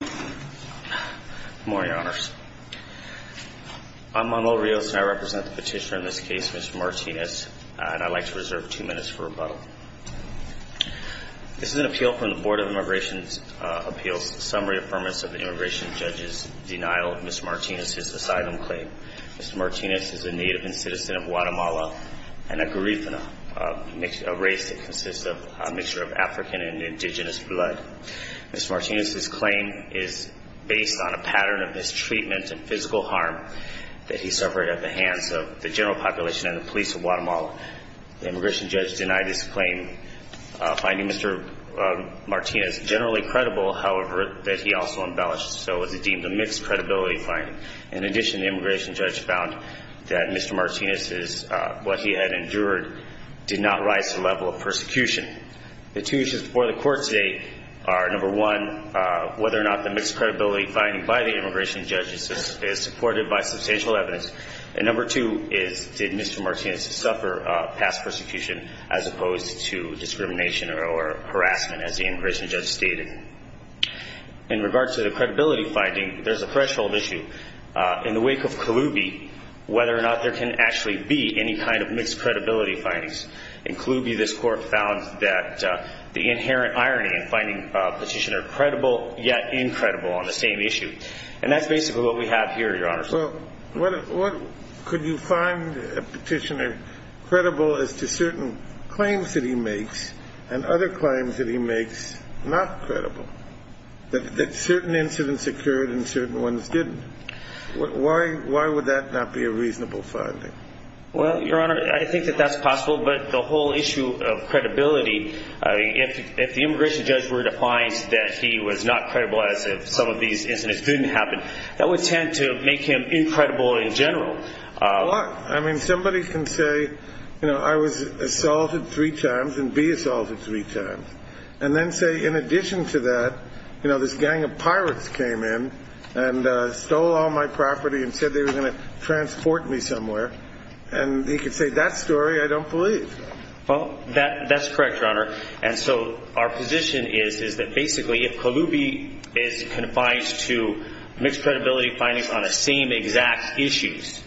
Good morning, honors. I'm Manuel Rios and I represent the petitioner in this case, Mr. Martinez, and I'd like to reserve two minutes for rebuttal. This is an appeal from the Board of Immigration Appeals. Summary affirmance of the immigration judge's denial of Mr. Martinez's asylum claim. Mr. Martinez is a native and citizen of Guatemala and a Garifuna, a race that consists of a mixture of African and indigenous blood. Mr. Martinez's claim is based on a pattern of mistreatment and physical harm that he suffered at the hands of the general population and the police of Guatemala. The immigration judge denied his claim, finding Mr. Martinez generally credible, however, that he also embellished, so it was deemed a mixed credibility finding. In addition, the immigration judge found that Mr. Martinez's, what he had endured, did not rise to the level of persecution. The two issues before the court today are, number one, whether or not the mixed credibility finding by the immigration judge is supported by substantial evidence, and number two is, did Mr. Martinez suffer past persecution as opposed to discrimination or harassment, as the immigration judge stated. In regards to the credibility finding, there's a threshold issue. In the wake of Colubi, whether or not there can actually be any kind of mixed credibility findings. In Colubi, this court found that the inherent irony in finding a petitioner credible yet incredible on the same issue. And that's basically what we have here, Your Honor. Well, could you find a petitioner credible as to certain claims that he makes and other claims that he makes not credible, that certain incidents occurred and certain ones didn't? Why would that not be a reasonable finding? Well, Your Honor, I think that that's possible, but the whole issue of credibility, if the immigration judge were to find that he was not credible as if some of these incidents didn't happen, that would tend to make him incredible in general. Well, I mean, somebody can say, you know, I was assaulted three times and be assaulted three times. And then say, in addition to that, you know, this gang of pirates came in and stole all my property and said they were going to transport me somewhere. And he could say that story, I don't believe. Well, that's correct, Your Honor. And so our position is, is that basically if Colubi is confined to mixed credibility findings on the same exact issues,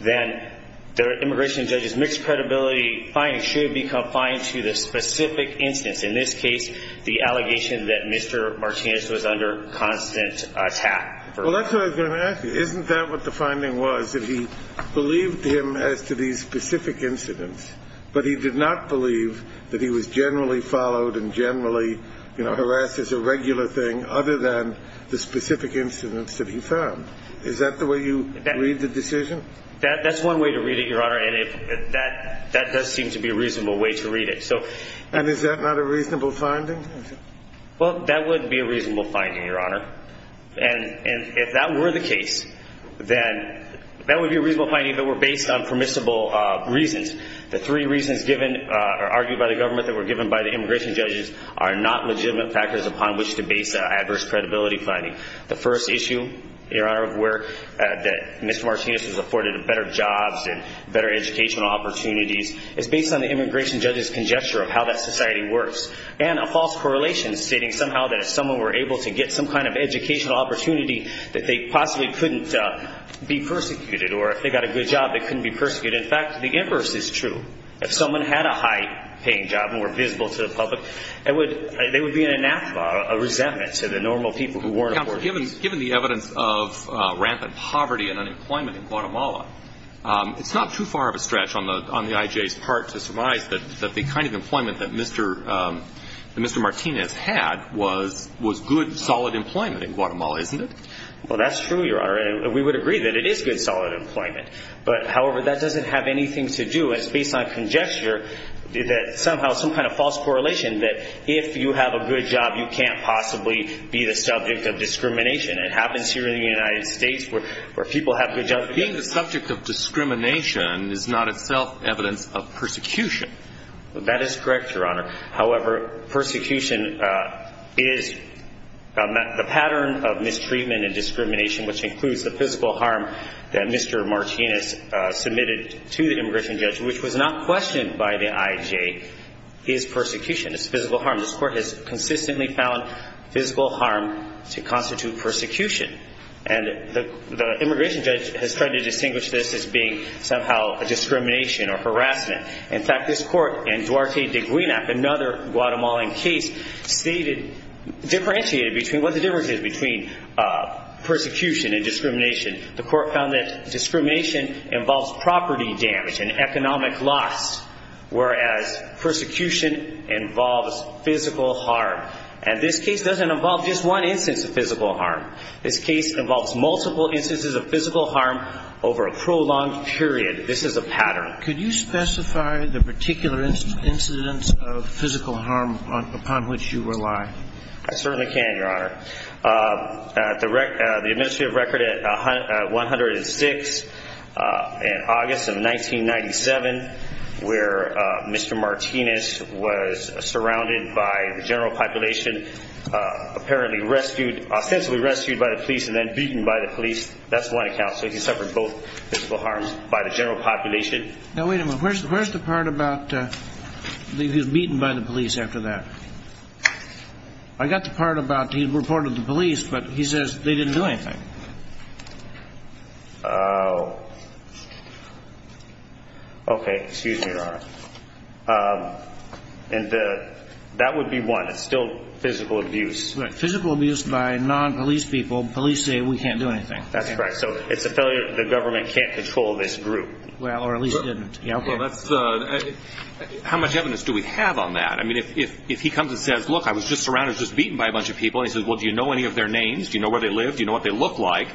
then the immigration judge's mixed credibility finding should be confined to the specific instance, in this case, the allegation that Mr. Martinez was under constant attack. Well, that's what I was going to ask you. Isn't that what the finding was, that he believed him as to these specific incidents, but he did not believe that he was generally followed and generally, you know, harassed as a regular thing other than the specific incidents that he found? Is that the way you read the decision? That's one way to read it, Your Honor, and that does seem to be a reasonable way to read it. And is that not a reasonable finding? Well, that would be a reasonable finding, Your Honor. And if that were the case, then that would be a reasonable finding that were based on permissible reasons. The three reasons given or argued by the government that were given by the immigration judges are not legitimate factors upon which to base an adverse credibility finding. The first issue, Your Honor, of where Mr. Martinez was afforded better jobs and better educational opportunities is based on the immigration judge's conjecture of how that society works and a false correlation stating somehow that if someone were able to get some kind of educational opportunity, that they possibly couldn't be persecuted or if they got a good job, they couldn't be persecuted. In fact, the inverse is true. If someone had a high-paying job and were visible to the public, they would be a resentment to the normal people who weren't afforded it. Counsel, given the evidence of rampant poverty and unemployment in Guatemala, it's not too far of a stretch on the IJA's part to surmise that the kind of employment that Mr. Martinez had was good, solid employment in Guatemala, isn't it? Well, that's true, Your Honor. We would agree that it is good, solid employment. However, that doesn't have anything to do, it's based on conjecture, that somehow some kind of false correlation that if you have a good job, you can't possibly be the subject of discrimination. It happens here in the United States where people have good jobs. Being the subject of discrimination is not itself evidence of persecution. That is correct, Your Honor. However, persecution is the pattern of mistreatment and discrimination, which includes the physical harm that Mr. Martinez submitted to the immigration judge, which was not questioned by the IJA, is persecution. It's physical harm. This Court has consistently found physical harm to constitute persecution. And the immigration judge has tried to distinguish this as being somehow a discrimination or harassment. In fact, this Court in Duarte de Guinap, another Guatemalan case, stated, differentiated between what the difference is between persecution and discrimination. The Court found that discrimination involves property damage and economic loss, whereas persecution involves physical harm. And this case doesn't involve just one instance of physical harm. This case involves multiple instances of physical harm over a prolonged period. This is a pattern. Could you specify the particular incidence of physical harm upon which you rely? I certainly can, Your Honor. The administrative record at 106 in August of 1997, where Mr. Martinez was surrounded by the general population, apparently rescued, ostensibly rescued by the police and then beaten by the police. That's one account. So he suffered both physical harms by the general population. Now, wait a minute. Where's the part about he was beaten by the police after that? I got the part about he reported to the police, but he says they didn't do anything. Okay. Excuse me, Your Honor. And that would be one. It's still physical abuse. Physical abuse by non-police people. Police say we can't do anything. That's correct. So it's a failure. The government can't control this group. Well, or at least didn't. How much evidence do we have on that? I mean, if he comes and says, look, I was just surrounded, just beaten by a bunch of people, and he says, well, do you know any of their names? Do you know where they live? Do you know what they look like?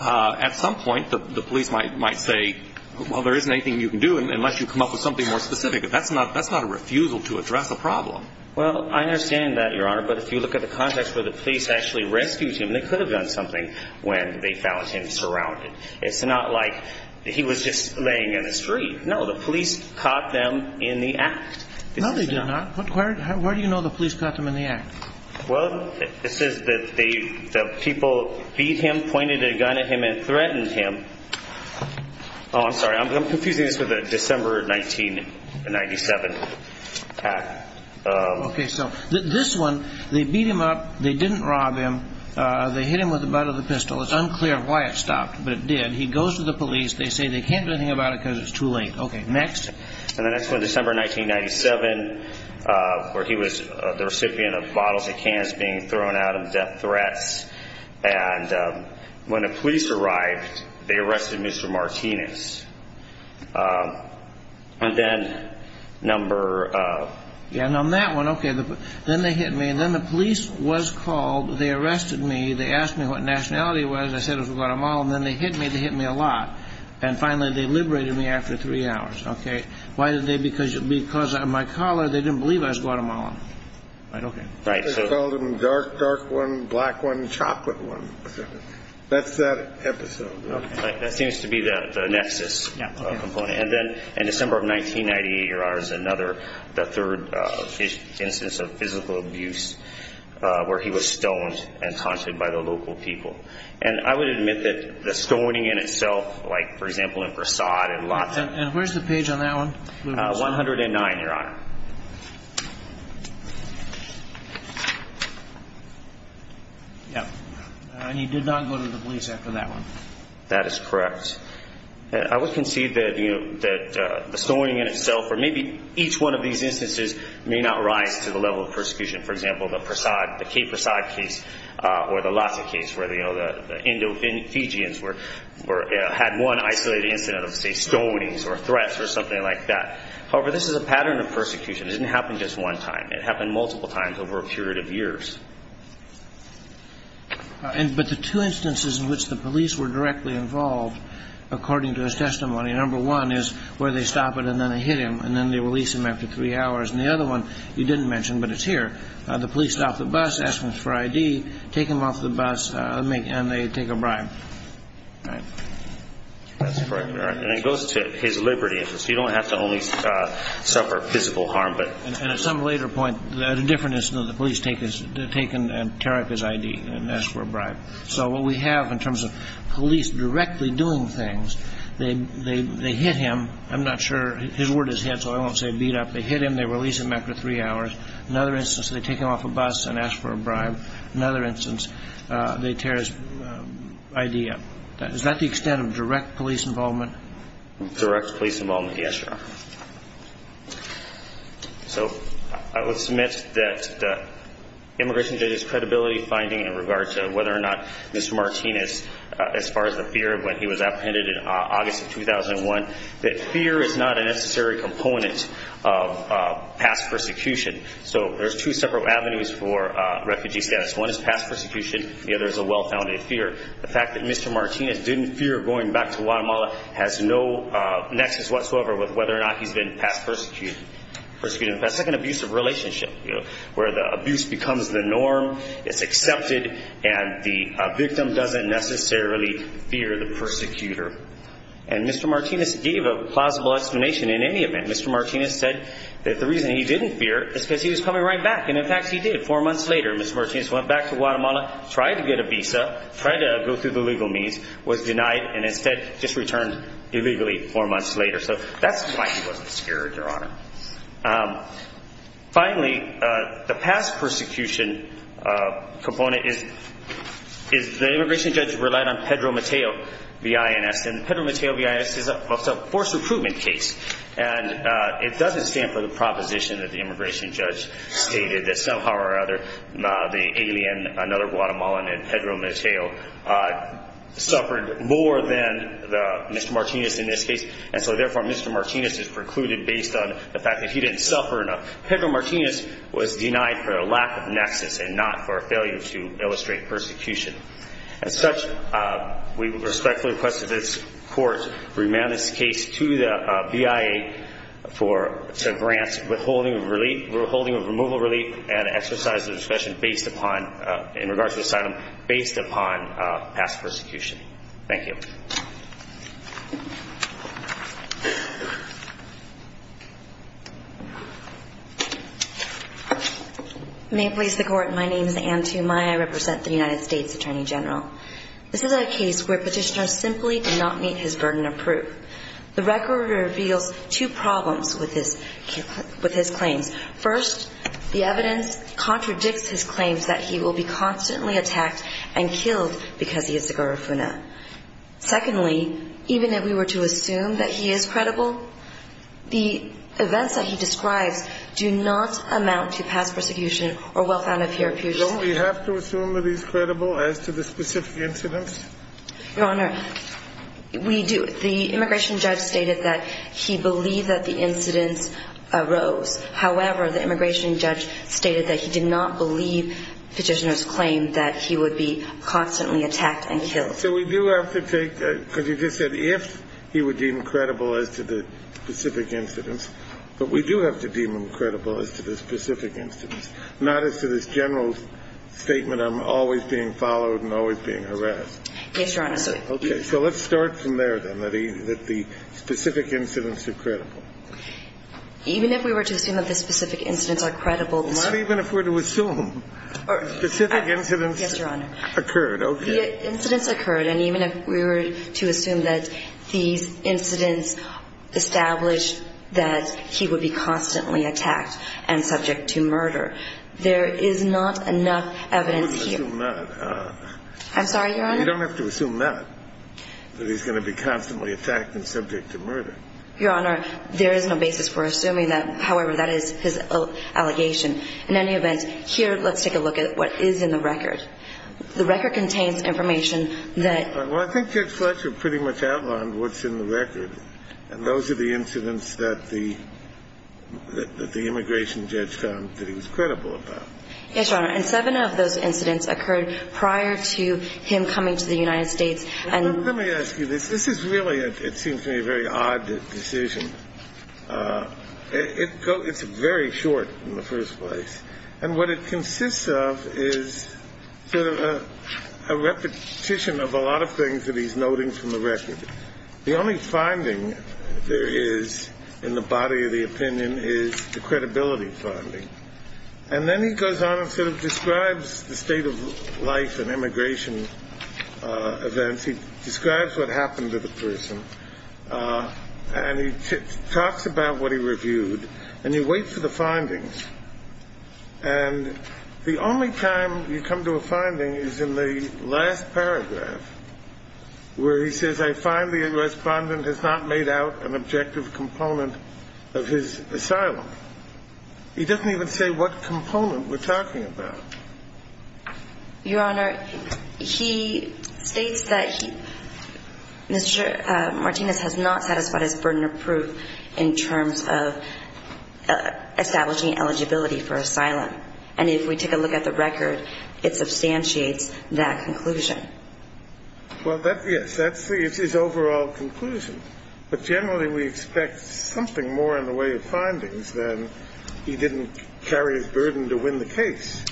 At some point, the police might say, well, there isn't anything you can do, unless you come up with something more specific. That's not a refusal to address a problem. Well, I understand that, Your Honor. But if you look at the context where the police actually rescued him, they could have done something when they found him surrounded. It's not like he was just laying in the street. No, the police caught them in the act. No, they did not. Where do you know the police caught them in the act? Well, it says that the people beat him, pointed a gun at him, and threatened him. Oh, I'm sorry. I'm confusing this with the December 1997 attack. Okay. So this one, they beat him up. They didn't rob him. They hit him with the butt of the pistol. It's unclear why it stopped, but it did. He goes to the police. They say they can't do anything about it because it's too late. Okay. Next. And the next one, December 1997, where he was the recipient of bottles of cans being thrown out of death threats. And when the police arrived, they arrested Mr. Martinez. And then number of ---- And on that one, okay, then they hit me. Then the police was called. They arrested me. They asked me what nationality it was. Then they hit me. They hit me a lot. And finally, they liberated me after three hours. Okay. Why did they? Because of my color, they didn't believe I was Guatemalan. Right? Okay. Right. They called him dark, dark one, black one, chocolate one. That's that episode. Okay. That seems to be the nexus component. And then in December of 1998, there was another, the third instance of physical abuse where he was stoned and taunted by the local people. And I would admit that the stoning in itself, like, for example, in Prasad and lots of ---- And where's the page on that one? 109, Your Honor. Yeah. And he did not go to the police after that one. That is correct. I would concede that, you know, that the stoning in itself For example, the Prasad, the Kate Prasad case or the Lhasa case where, you know, the Indo-Fijians were, had one isolated incident of, say, stonings or threats or something like that. However, this is a pattern of persecution. It didn't happen just one time. It happened multiple times over a period of years. But the two instances in which the police were directly involved, according to his testimony, number one is where they stop it and then they hit him and then they release him after three hours. And the other one you didn't mention, but it's here. The police stop the bus, ask him for I.D., take him off the bus, and they take a bribe. All right. That's correct. And it goes to his liberty. So you don't have to only suffer physical harm. And at some later point, at a different instance, the police take him and tear up his I.D. and ask for a bribe. So what we have in terms of police directly doing things, they hit him. I'm not sure. His word is hit, so I won't say beat up. They hit him, they release him after three hours. Another instance, they take him off a bus and ask for a bribe. Another instance, they tear his I.D. up. Is that the extent of direct police involvement? Direct police involvement, yes, Your Honor. So I would submit that the immigration judge's credibility finding in regards to whether or not Mr. Martinez, as far as the fear when he was apprehended in August of 2001, that fear is not a necessary component of past persecution. So there's two separate avenues for refugee status. One is past persecution. The other is a well-founded fear. The fact that Mr. Martinez didn't fear going back to Guatemala has no nexus whatsoever with whether or not he's been past persecuted. That's like an abusive relationship, you know, where the abuse becomes the norm, it's accepted, and the victim doesn't necessarily fear the persecutor. And Mr. Martinez gave a plausible explanation in any event. Mr. Martinez said that the reason he didn't fear is because he was coming right back. And, in fact, he did. Four months later, Mr. Martinez went back to Guatemala, tried to get a visa, tried to go through the legal means, was denied, and instead just returned illegally four months later. So that's why he wasn't scared, Your Honor. Finally, the past persecution component is the immigration judge relied on Pedro Mateo, V.I.N.S., and Pedro Mateo, V.I.N.S. is a forced recruitment case, and it doesn't stand for the proposition that the immigration judge stated that somehow or other the alien, another Guatemalan named Pedro Mateo, suffered more than Mr. Martinez in this case, and so, therefore, Mr. Martinez is precluded based on the fact that he didn't suffer enough. Pedro Martinez was denied for a lack of nexus and not for a failure to illustrate persecution. As such, we respectfully request that this Court remand this case to the BIA to grant withholding of relief, withholding of removal of relief, and exercise of discretion based upon, in regards to asylum, based upon past persecution. Thank you. May it please the Court. My name is Anne Tumaya. I represent the United States Attorney General. This is a case where petitioner simply did not meet his burden of proof. The record reveals two problems with his claims. First, the evidence contradicts his claims that he will be constantly attacked and killed because he is a Garifuna. Secondly, even if we were to assume that he is credible, the events that he describes do not amount to past persecution or well-founded peer-to-peer. Don't we have to assume that he's credible as to the specific incidents? Your Honor, we do. The immigration judge stated that he believed that the incidents arose. However, the immigration judge stated that he did not believe petitioner's claim that he would be constantly attacked and killed. So we do have to take – because you just said if he would deem credible as to the specific incidents, but we do have to deem him credible as to the specific incidents, not as to this general statement of always being followed and always being harassed. Yes, Your Honor. Okay. So let's start from there, then, that the specific incidents are credible. Even if we were to assume that the specific incidents are credible – Not even if we're to assume. Specific incidents occurred. Yes, Your Honor. Okay. The incidents occurred. And even if we were to assume that these incidents established that he would be constantly attacked and subject to murder, there is not enough evidence here – You wouldn't assume that. I'm sorry, Your Honor? You don't have to assume that, that he's going to be constantly attacked and subject to murder. Your Honor, there is no basis for assuming that. However, that is his allegation. In any event, here, let's take a look at what is in the record. The record contains information that – Well, I think Judge Fletcher pretty much outlined what's in the record. And those are the incidents that the immigration judge found that he was credible about. Yes, Your Honor. And seven of those incidents occurred prior to him coming to the United States and – It's very short in the first place. And what it consists of is sort of a repetition of a lot of things that he's noting from the record. The only finding there is in the body of the opinion is the credibility finding. And then he goes on and sort of describes the state of life and immigration events. He describes what happened to the person. And he talks about what he reviewed. And you wait for the findings. And the only time you come to a finding is in the last paragraph where he says, I find the respondent has not made out an objective component of his asylum. He doesn't even say what component we're talking about. Your Honor, he states that he – Mr. Martinez has not satisfied his burden of proof in terms of establishing eligibility for asylum. And if we take a look at the record, it substantiates that conclusion. Well, yes, that's his overall conclusion. But generally we expect something more in the way of findings than he didn't carry his burden to win the case.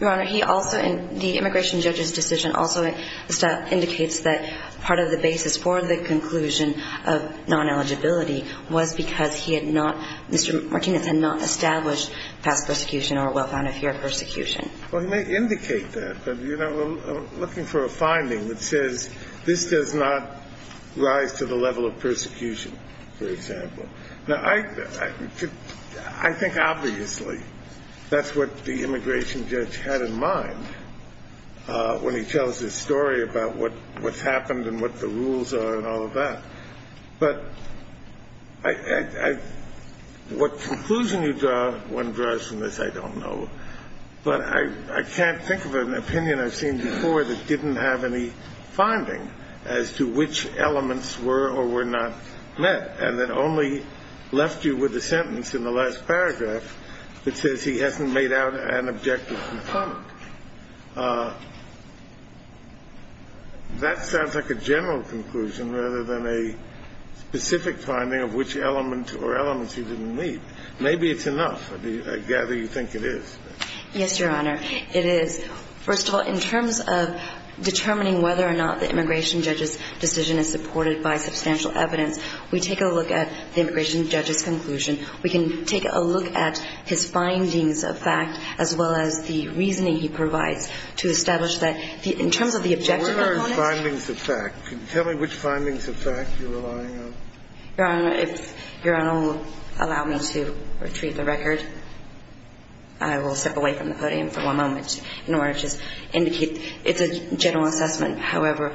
Your Honor, he also – the immigration judge's decision also indicates that part of the basis for the conclusion of non-eligibility was because he had not – Mr. Martinez had not established past persecution or well-founded fear of persecution. Well, he may indicate that. But, you know, looking for a finding that says this does not rise to the level of persecution, for example. Now, I think obviously that's what the immigration judge had in mind when he tells his story about what's happened and what the rules are and all of that. But I – what conclusion one draws from this, I don't know. But I can't think of an opinion I've seen before that didn't have any finding as to which elements were or were not met and that only left you with a sentence in the last paragraph that says he hasn't made out an objective concomitant. That sounds like a general conclusion rather than a specific finding of which element or elements he didn't meet. Maybe it's enough. I gather you think it is. Yes, Your Honor. It is. First of all, in terms of determining whether or not the immigration judge's decision is supported by substantial evidence, we take a look at the immigration judge's conclusion. We can take a look at his findings of fact as well as the reasoning he provides to establish that in terms of the objective component. What are his findings of fact? Tell me which findings of fact you're relying on. Your Honor, if Your Honor will allow me to retrieve the record. I will step away from the podium for one moment in order to just indicate. It's a general assessment. However,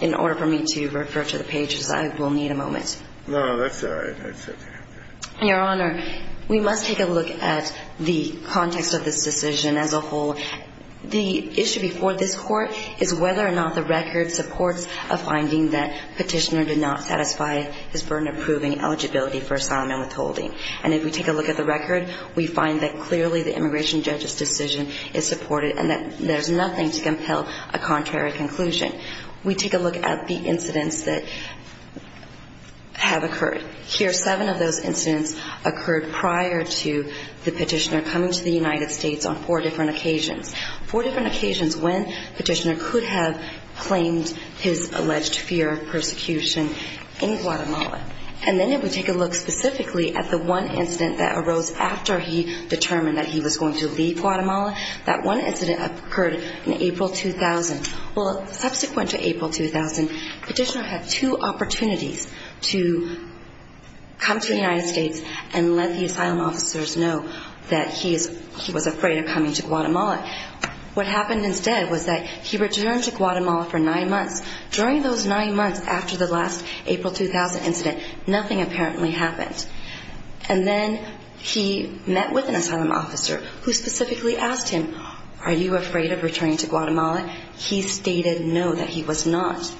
in order for me to refer to the pages, I will need a moment. No, that's all right. That's okay. Your Honor, we must take a look at the context of this decision as a whole. The issue before this Court is whether or not the record supports a finding that Petitioner did not satisfy his burden of proving eligibility for asylum and withholding. And if we take a look at the record, we find that clearly the immigration judge's decision is supported and that there's nothing to compel a contrary conclusion. We take a look at the incidents that have occurred. Here are seven of those incidents occurred prior to the Petitioner coming to the United States on four different occasions, four different occasions when Petitioner could have claimed his alleged fear of persecution in Guatemala. And then if we take a look specifically at the one incident that arose after he determined that he was going to leave Guatemala, that one incident occurred in April 2000. Well, subsequent to April 2000, Petitioner had two opportunities to come to the United States and let the asylum officers know that he was afraid of coming to Guatemala. What happened instead was that he returned to Guatemala for nine months. During those nine months after the last April 2000 incident, nothing apparently happened. And then he met with an asylum officer who specifically asked him, are you afraid of returning to Guatemala? He stated no, that he was not.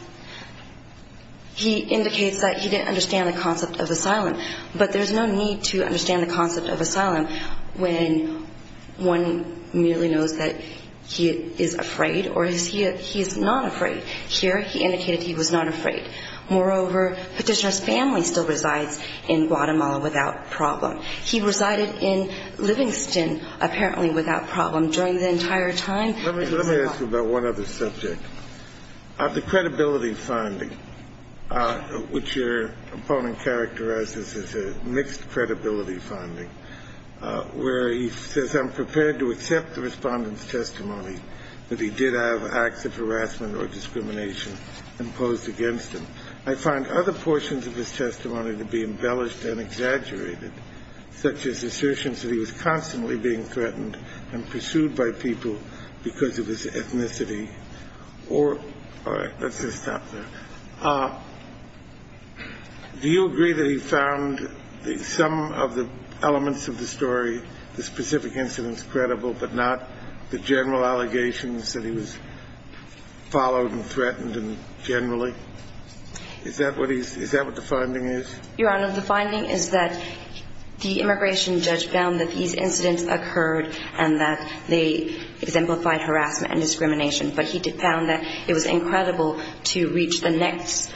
He indicates that he didn't understand the concept of asylum. But there's no need to understand the concept of asylum when one merely knows that he is afraid or he is not afraid. Here he indicated he was not afraid. Moreover, Petitioner's family still resides in Guatemala without problem. He resided in Livingston apparently without problem during the entire time that he was in Guatemala. Let me ask you about one other subject. The credibility finding, which your opponent characterizes as a mixed credibility finding, where he says, I'm prepared to accept the respondent's testimony that he did have acts of harassment or discrimination imposed against him. I find other portions of his testimony to be embellished and exaggerated, such as assertions that he was constantly being threatened and pursued by people because of his ethnicity. All right, let's just stop there. Do you agree that he found some of the elements of the story, the specific incidents, credible, but not the general allegations that he was followed and threatened generally? Is that what the finding is? Your Honor, the finding is that the immigration judge found that these incidents occurred and that they exemplified harassment and discrimination, but he found that it was incredible to reach the next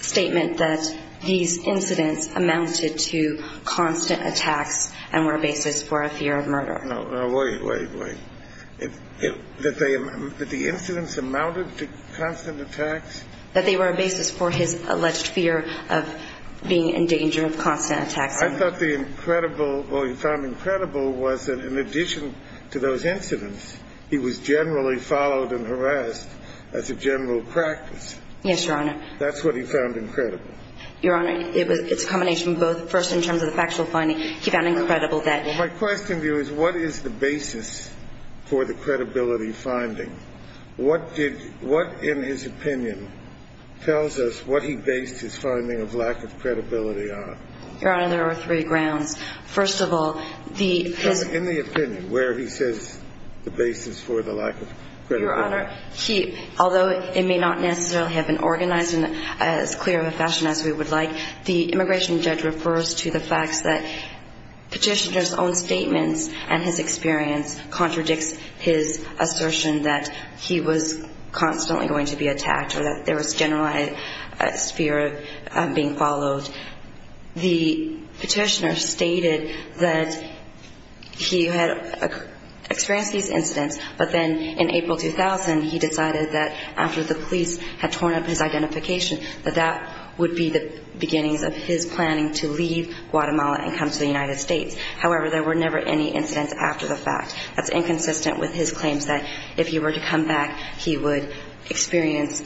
statement that these incidents amounted to constant attacks and were a basis for a fear of murder. No, no, wait, wait, wait. That the incidents amounted to constant attacks? That they were a basis for his alleged fear of being in danger of constant attacks. I thought the incredible or he found incredible was that in addition to those incidents, he was generally followed and harassed as a general practice. Yes, Your Honor. That's what he found incredible. Your Honor, it's a combination of both. First, in terms of the factual finding, he found incredible that. Well, my question to you is what is the basis for the credibility finding? What, in his opinion, tells us what he based his finding of lack of credibility on? Your Honor, there are three grounds. First of all, the – In the opinion, where he says the basis for the lack of credibility. Your Honor, although it may not necessarily have been organized in as clear of a fashion as we would like, the immigration judge refers to the fact that petitioner's own statements and his experience contradicts his assertion that he was constantly going to be attacked or that there was generalized fear of being followed. The petitioner stated that he had experienced these incidents, but then in April 2000, he decided that after the police had torn up his identification, that that would be the beginnings of his planning to leave Guatemala and come to the United States. However, there were never any incidents after the fact. That's inconsistent with his claims that if he were to come back, he would experience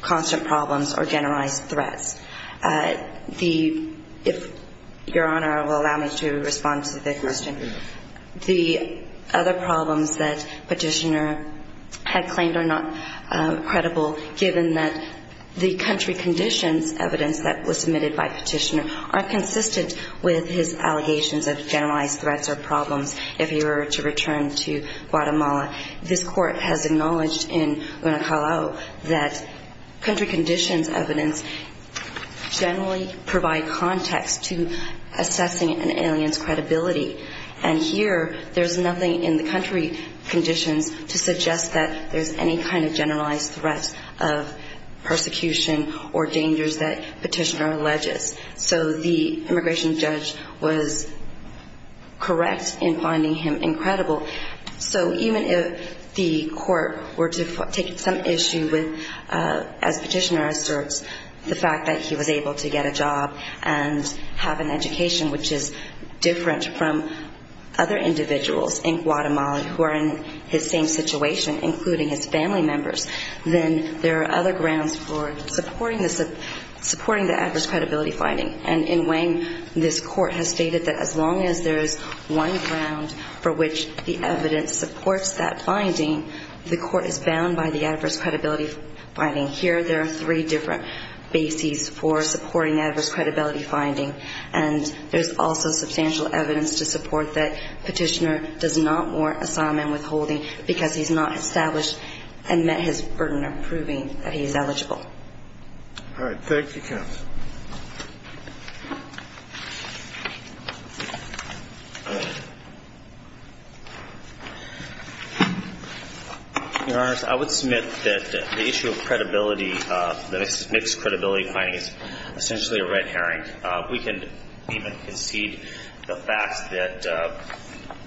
constant problems or generalized threats. The – if Your Honor will allow me to respond to the question. The other problems that petitioner had claimed are not credible, given that the country conditions evidence that was submitted by petitioner are consistent with his allegations of generalized threats or problems if he were to return to Guatemala. This Court has acknowledged in Guanacalo that country conditions evidence generally provide context to assessing an alien's credibility. And here, there's nothing in the country conditions to suggest that there's any kind of generalized threat of persecution or dangers that petitioner alleges. So the immigration judge was correct in finding him incredible. So even if the court were to take some issue with, as petitioner asserts, the fact that he was able to get a job and have an education, which is different from other individuals in Guatemala who are in his same situation, including his family members, then there are other grounds for supporting the adverse credibility finding. And in Wang, this Court has stated that as long as there's one ground for which the evidence supports that finding, the Court is bound by the adverse credibility finding. Here, there are three different bases for supporting adverse credibility finding. And there's also substantial evidence to support that petitioner does not warrant asylum and withholding because he's not established and met his burden of proving that he's eligible. All right. Thank you, counsel. Your Honors, I would submit that the issue of credibility, the mixed credibility finding, is essentially a red herring. We can even concede the fact that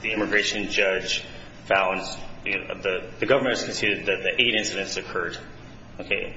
the immigration judge found, the government has conceded that the eight incidents occurred.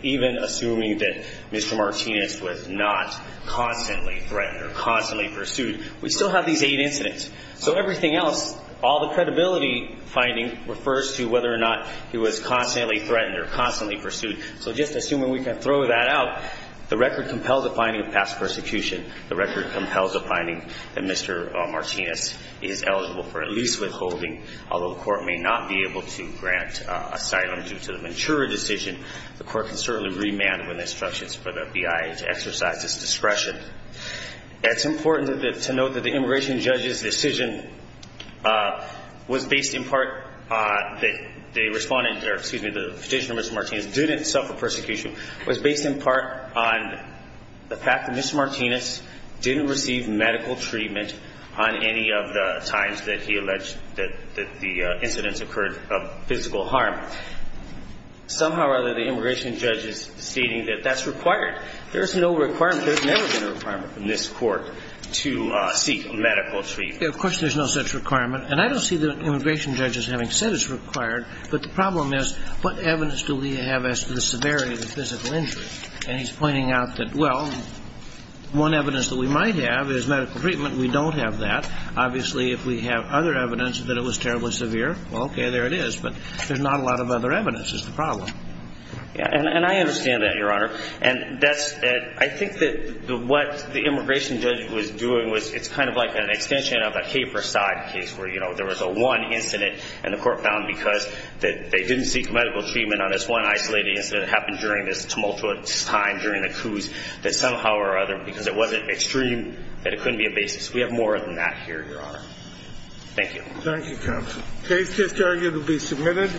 Even assuming that Mr. Martinez was not constantly threatened or constantly pursued, we still have these eight incidents. So everything else, all the credibility finding, refers to whether or not he was constantly threatened or constantly pursued. So just assuming we can throw that out, the record compels a finding of past persecution. The record compels a finding that Mr. Martinez is eligible for at least withholding. Although the Court may not be able to grant asylum due to the Ventura decision, the Court can certainly remand with instructions for the BIA to exercise its discretion. It's important to note that the immigration judge's decision was based in part, that the respondent, or excuse me, the petitioner, Mr. Martinez, didn't suffer persecution, was based in part on the fact that Mr. Martinez didn't receive medical treatment on any of the times that he alleged that the incidents occurred of physical harm. Somehow or other, the immigration judge is stating that that's required. There's no requirement, there's never been a requirement from this Court to seek medical treatment. Of course, there's no such requirement. And I don't see the immigration judge as having said it's required. But the problem is, what evidence do we have as to the severity of the physical injury? And he's pointing out that, well, one evidence that we might have is medical treatment. We don't have that. Obviously, if we have other evidence that it was terribly severe, well, okay, there it is. But there's not a lot of other evidence is the problem. And I understand that, Your Honor. And I think that what the immigration judge was doing was it's kind of like an extension of a caper side case where there was a one incident, and the Court found because they didn't seek medical treatment on this one isolated incident that happened during this tumultuous time during the coups, that somehow or other, because it wasn't extreme, that it couldn't be a basis. We have more than that here, Your Honor. Thank you. Thank you, Counsel. The case is arguably submitted.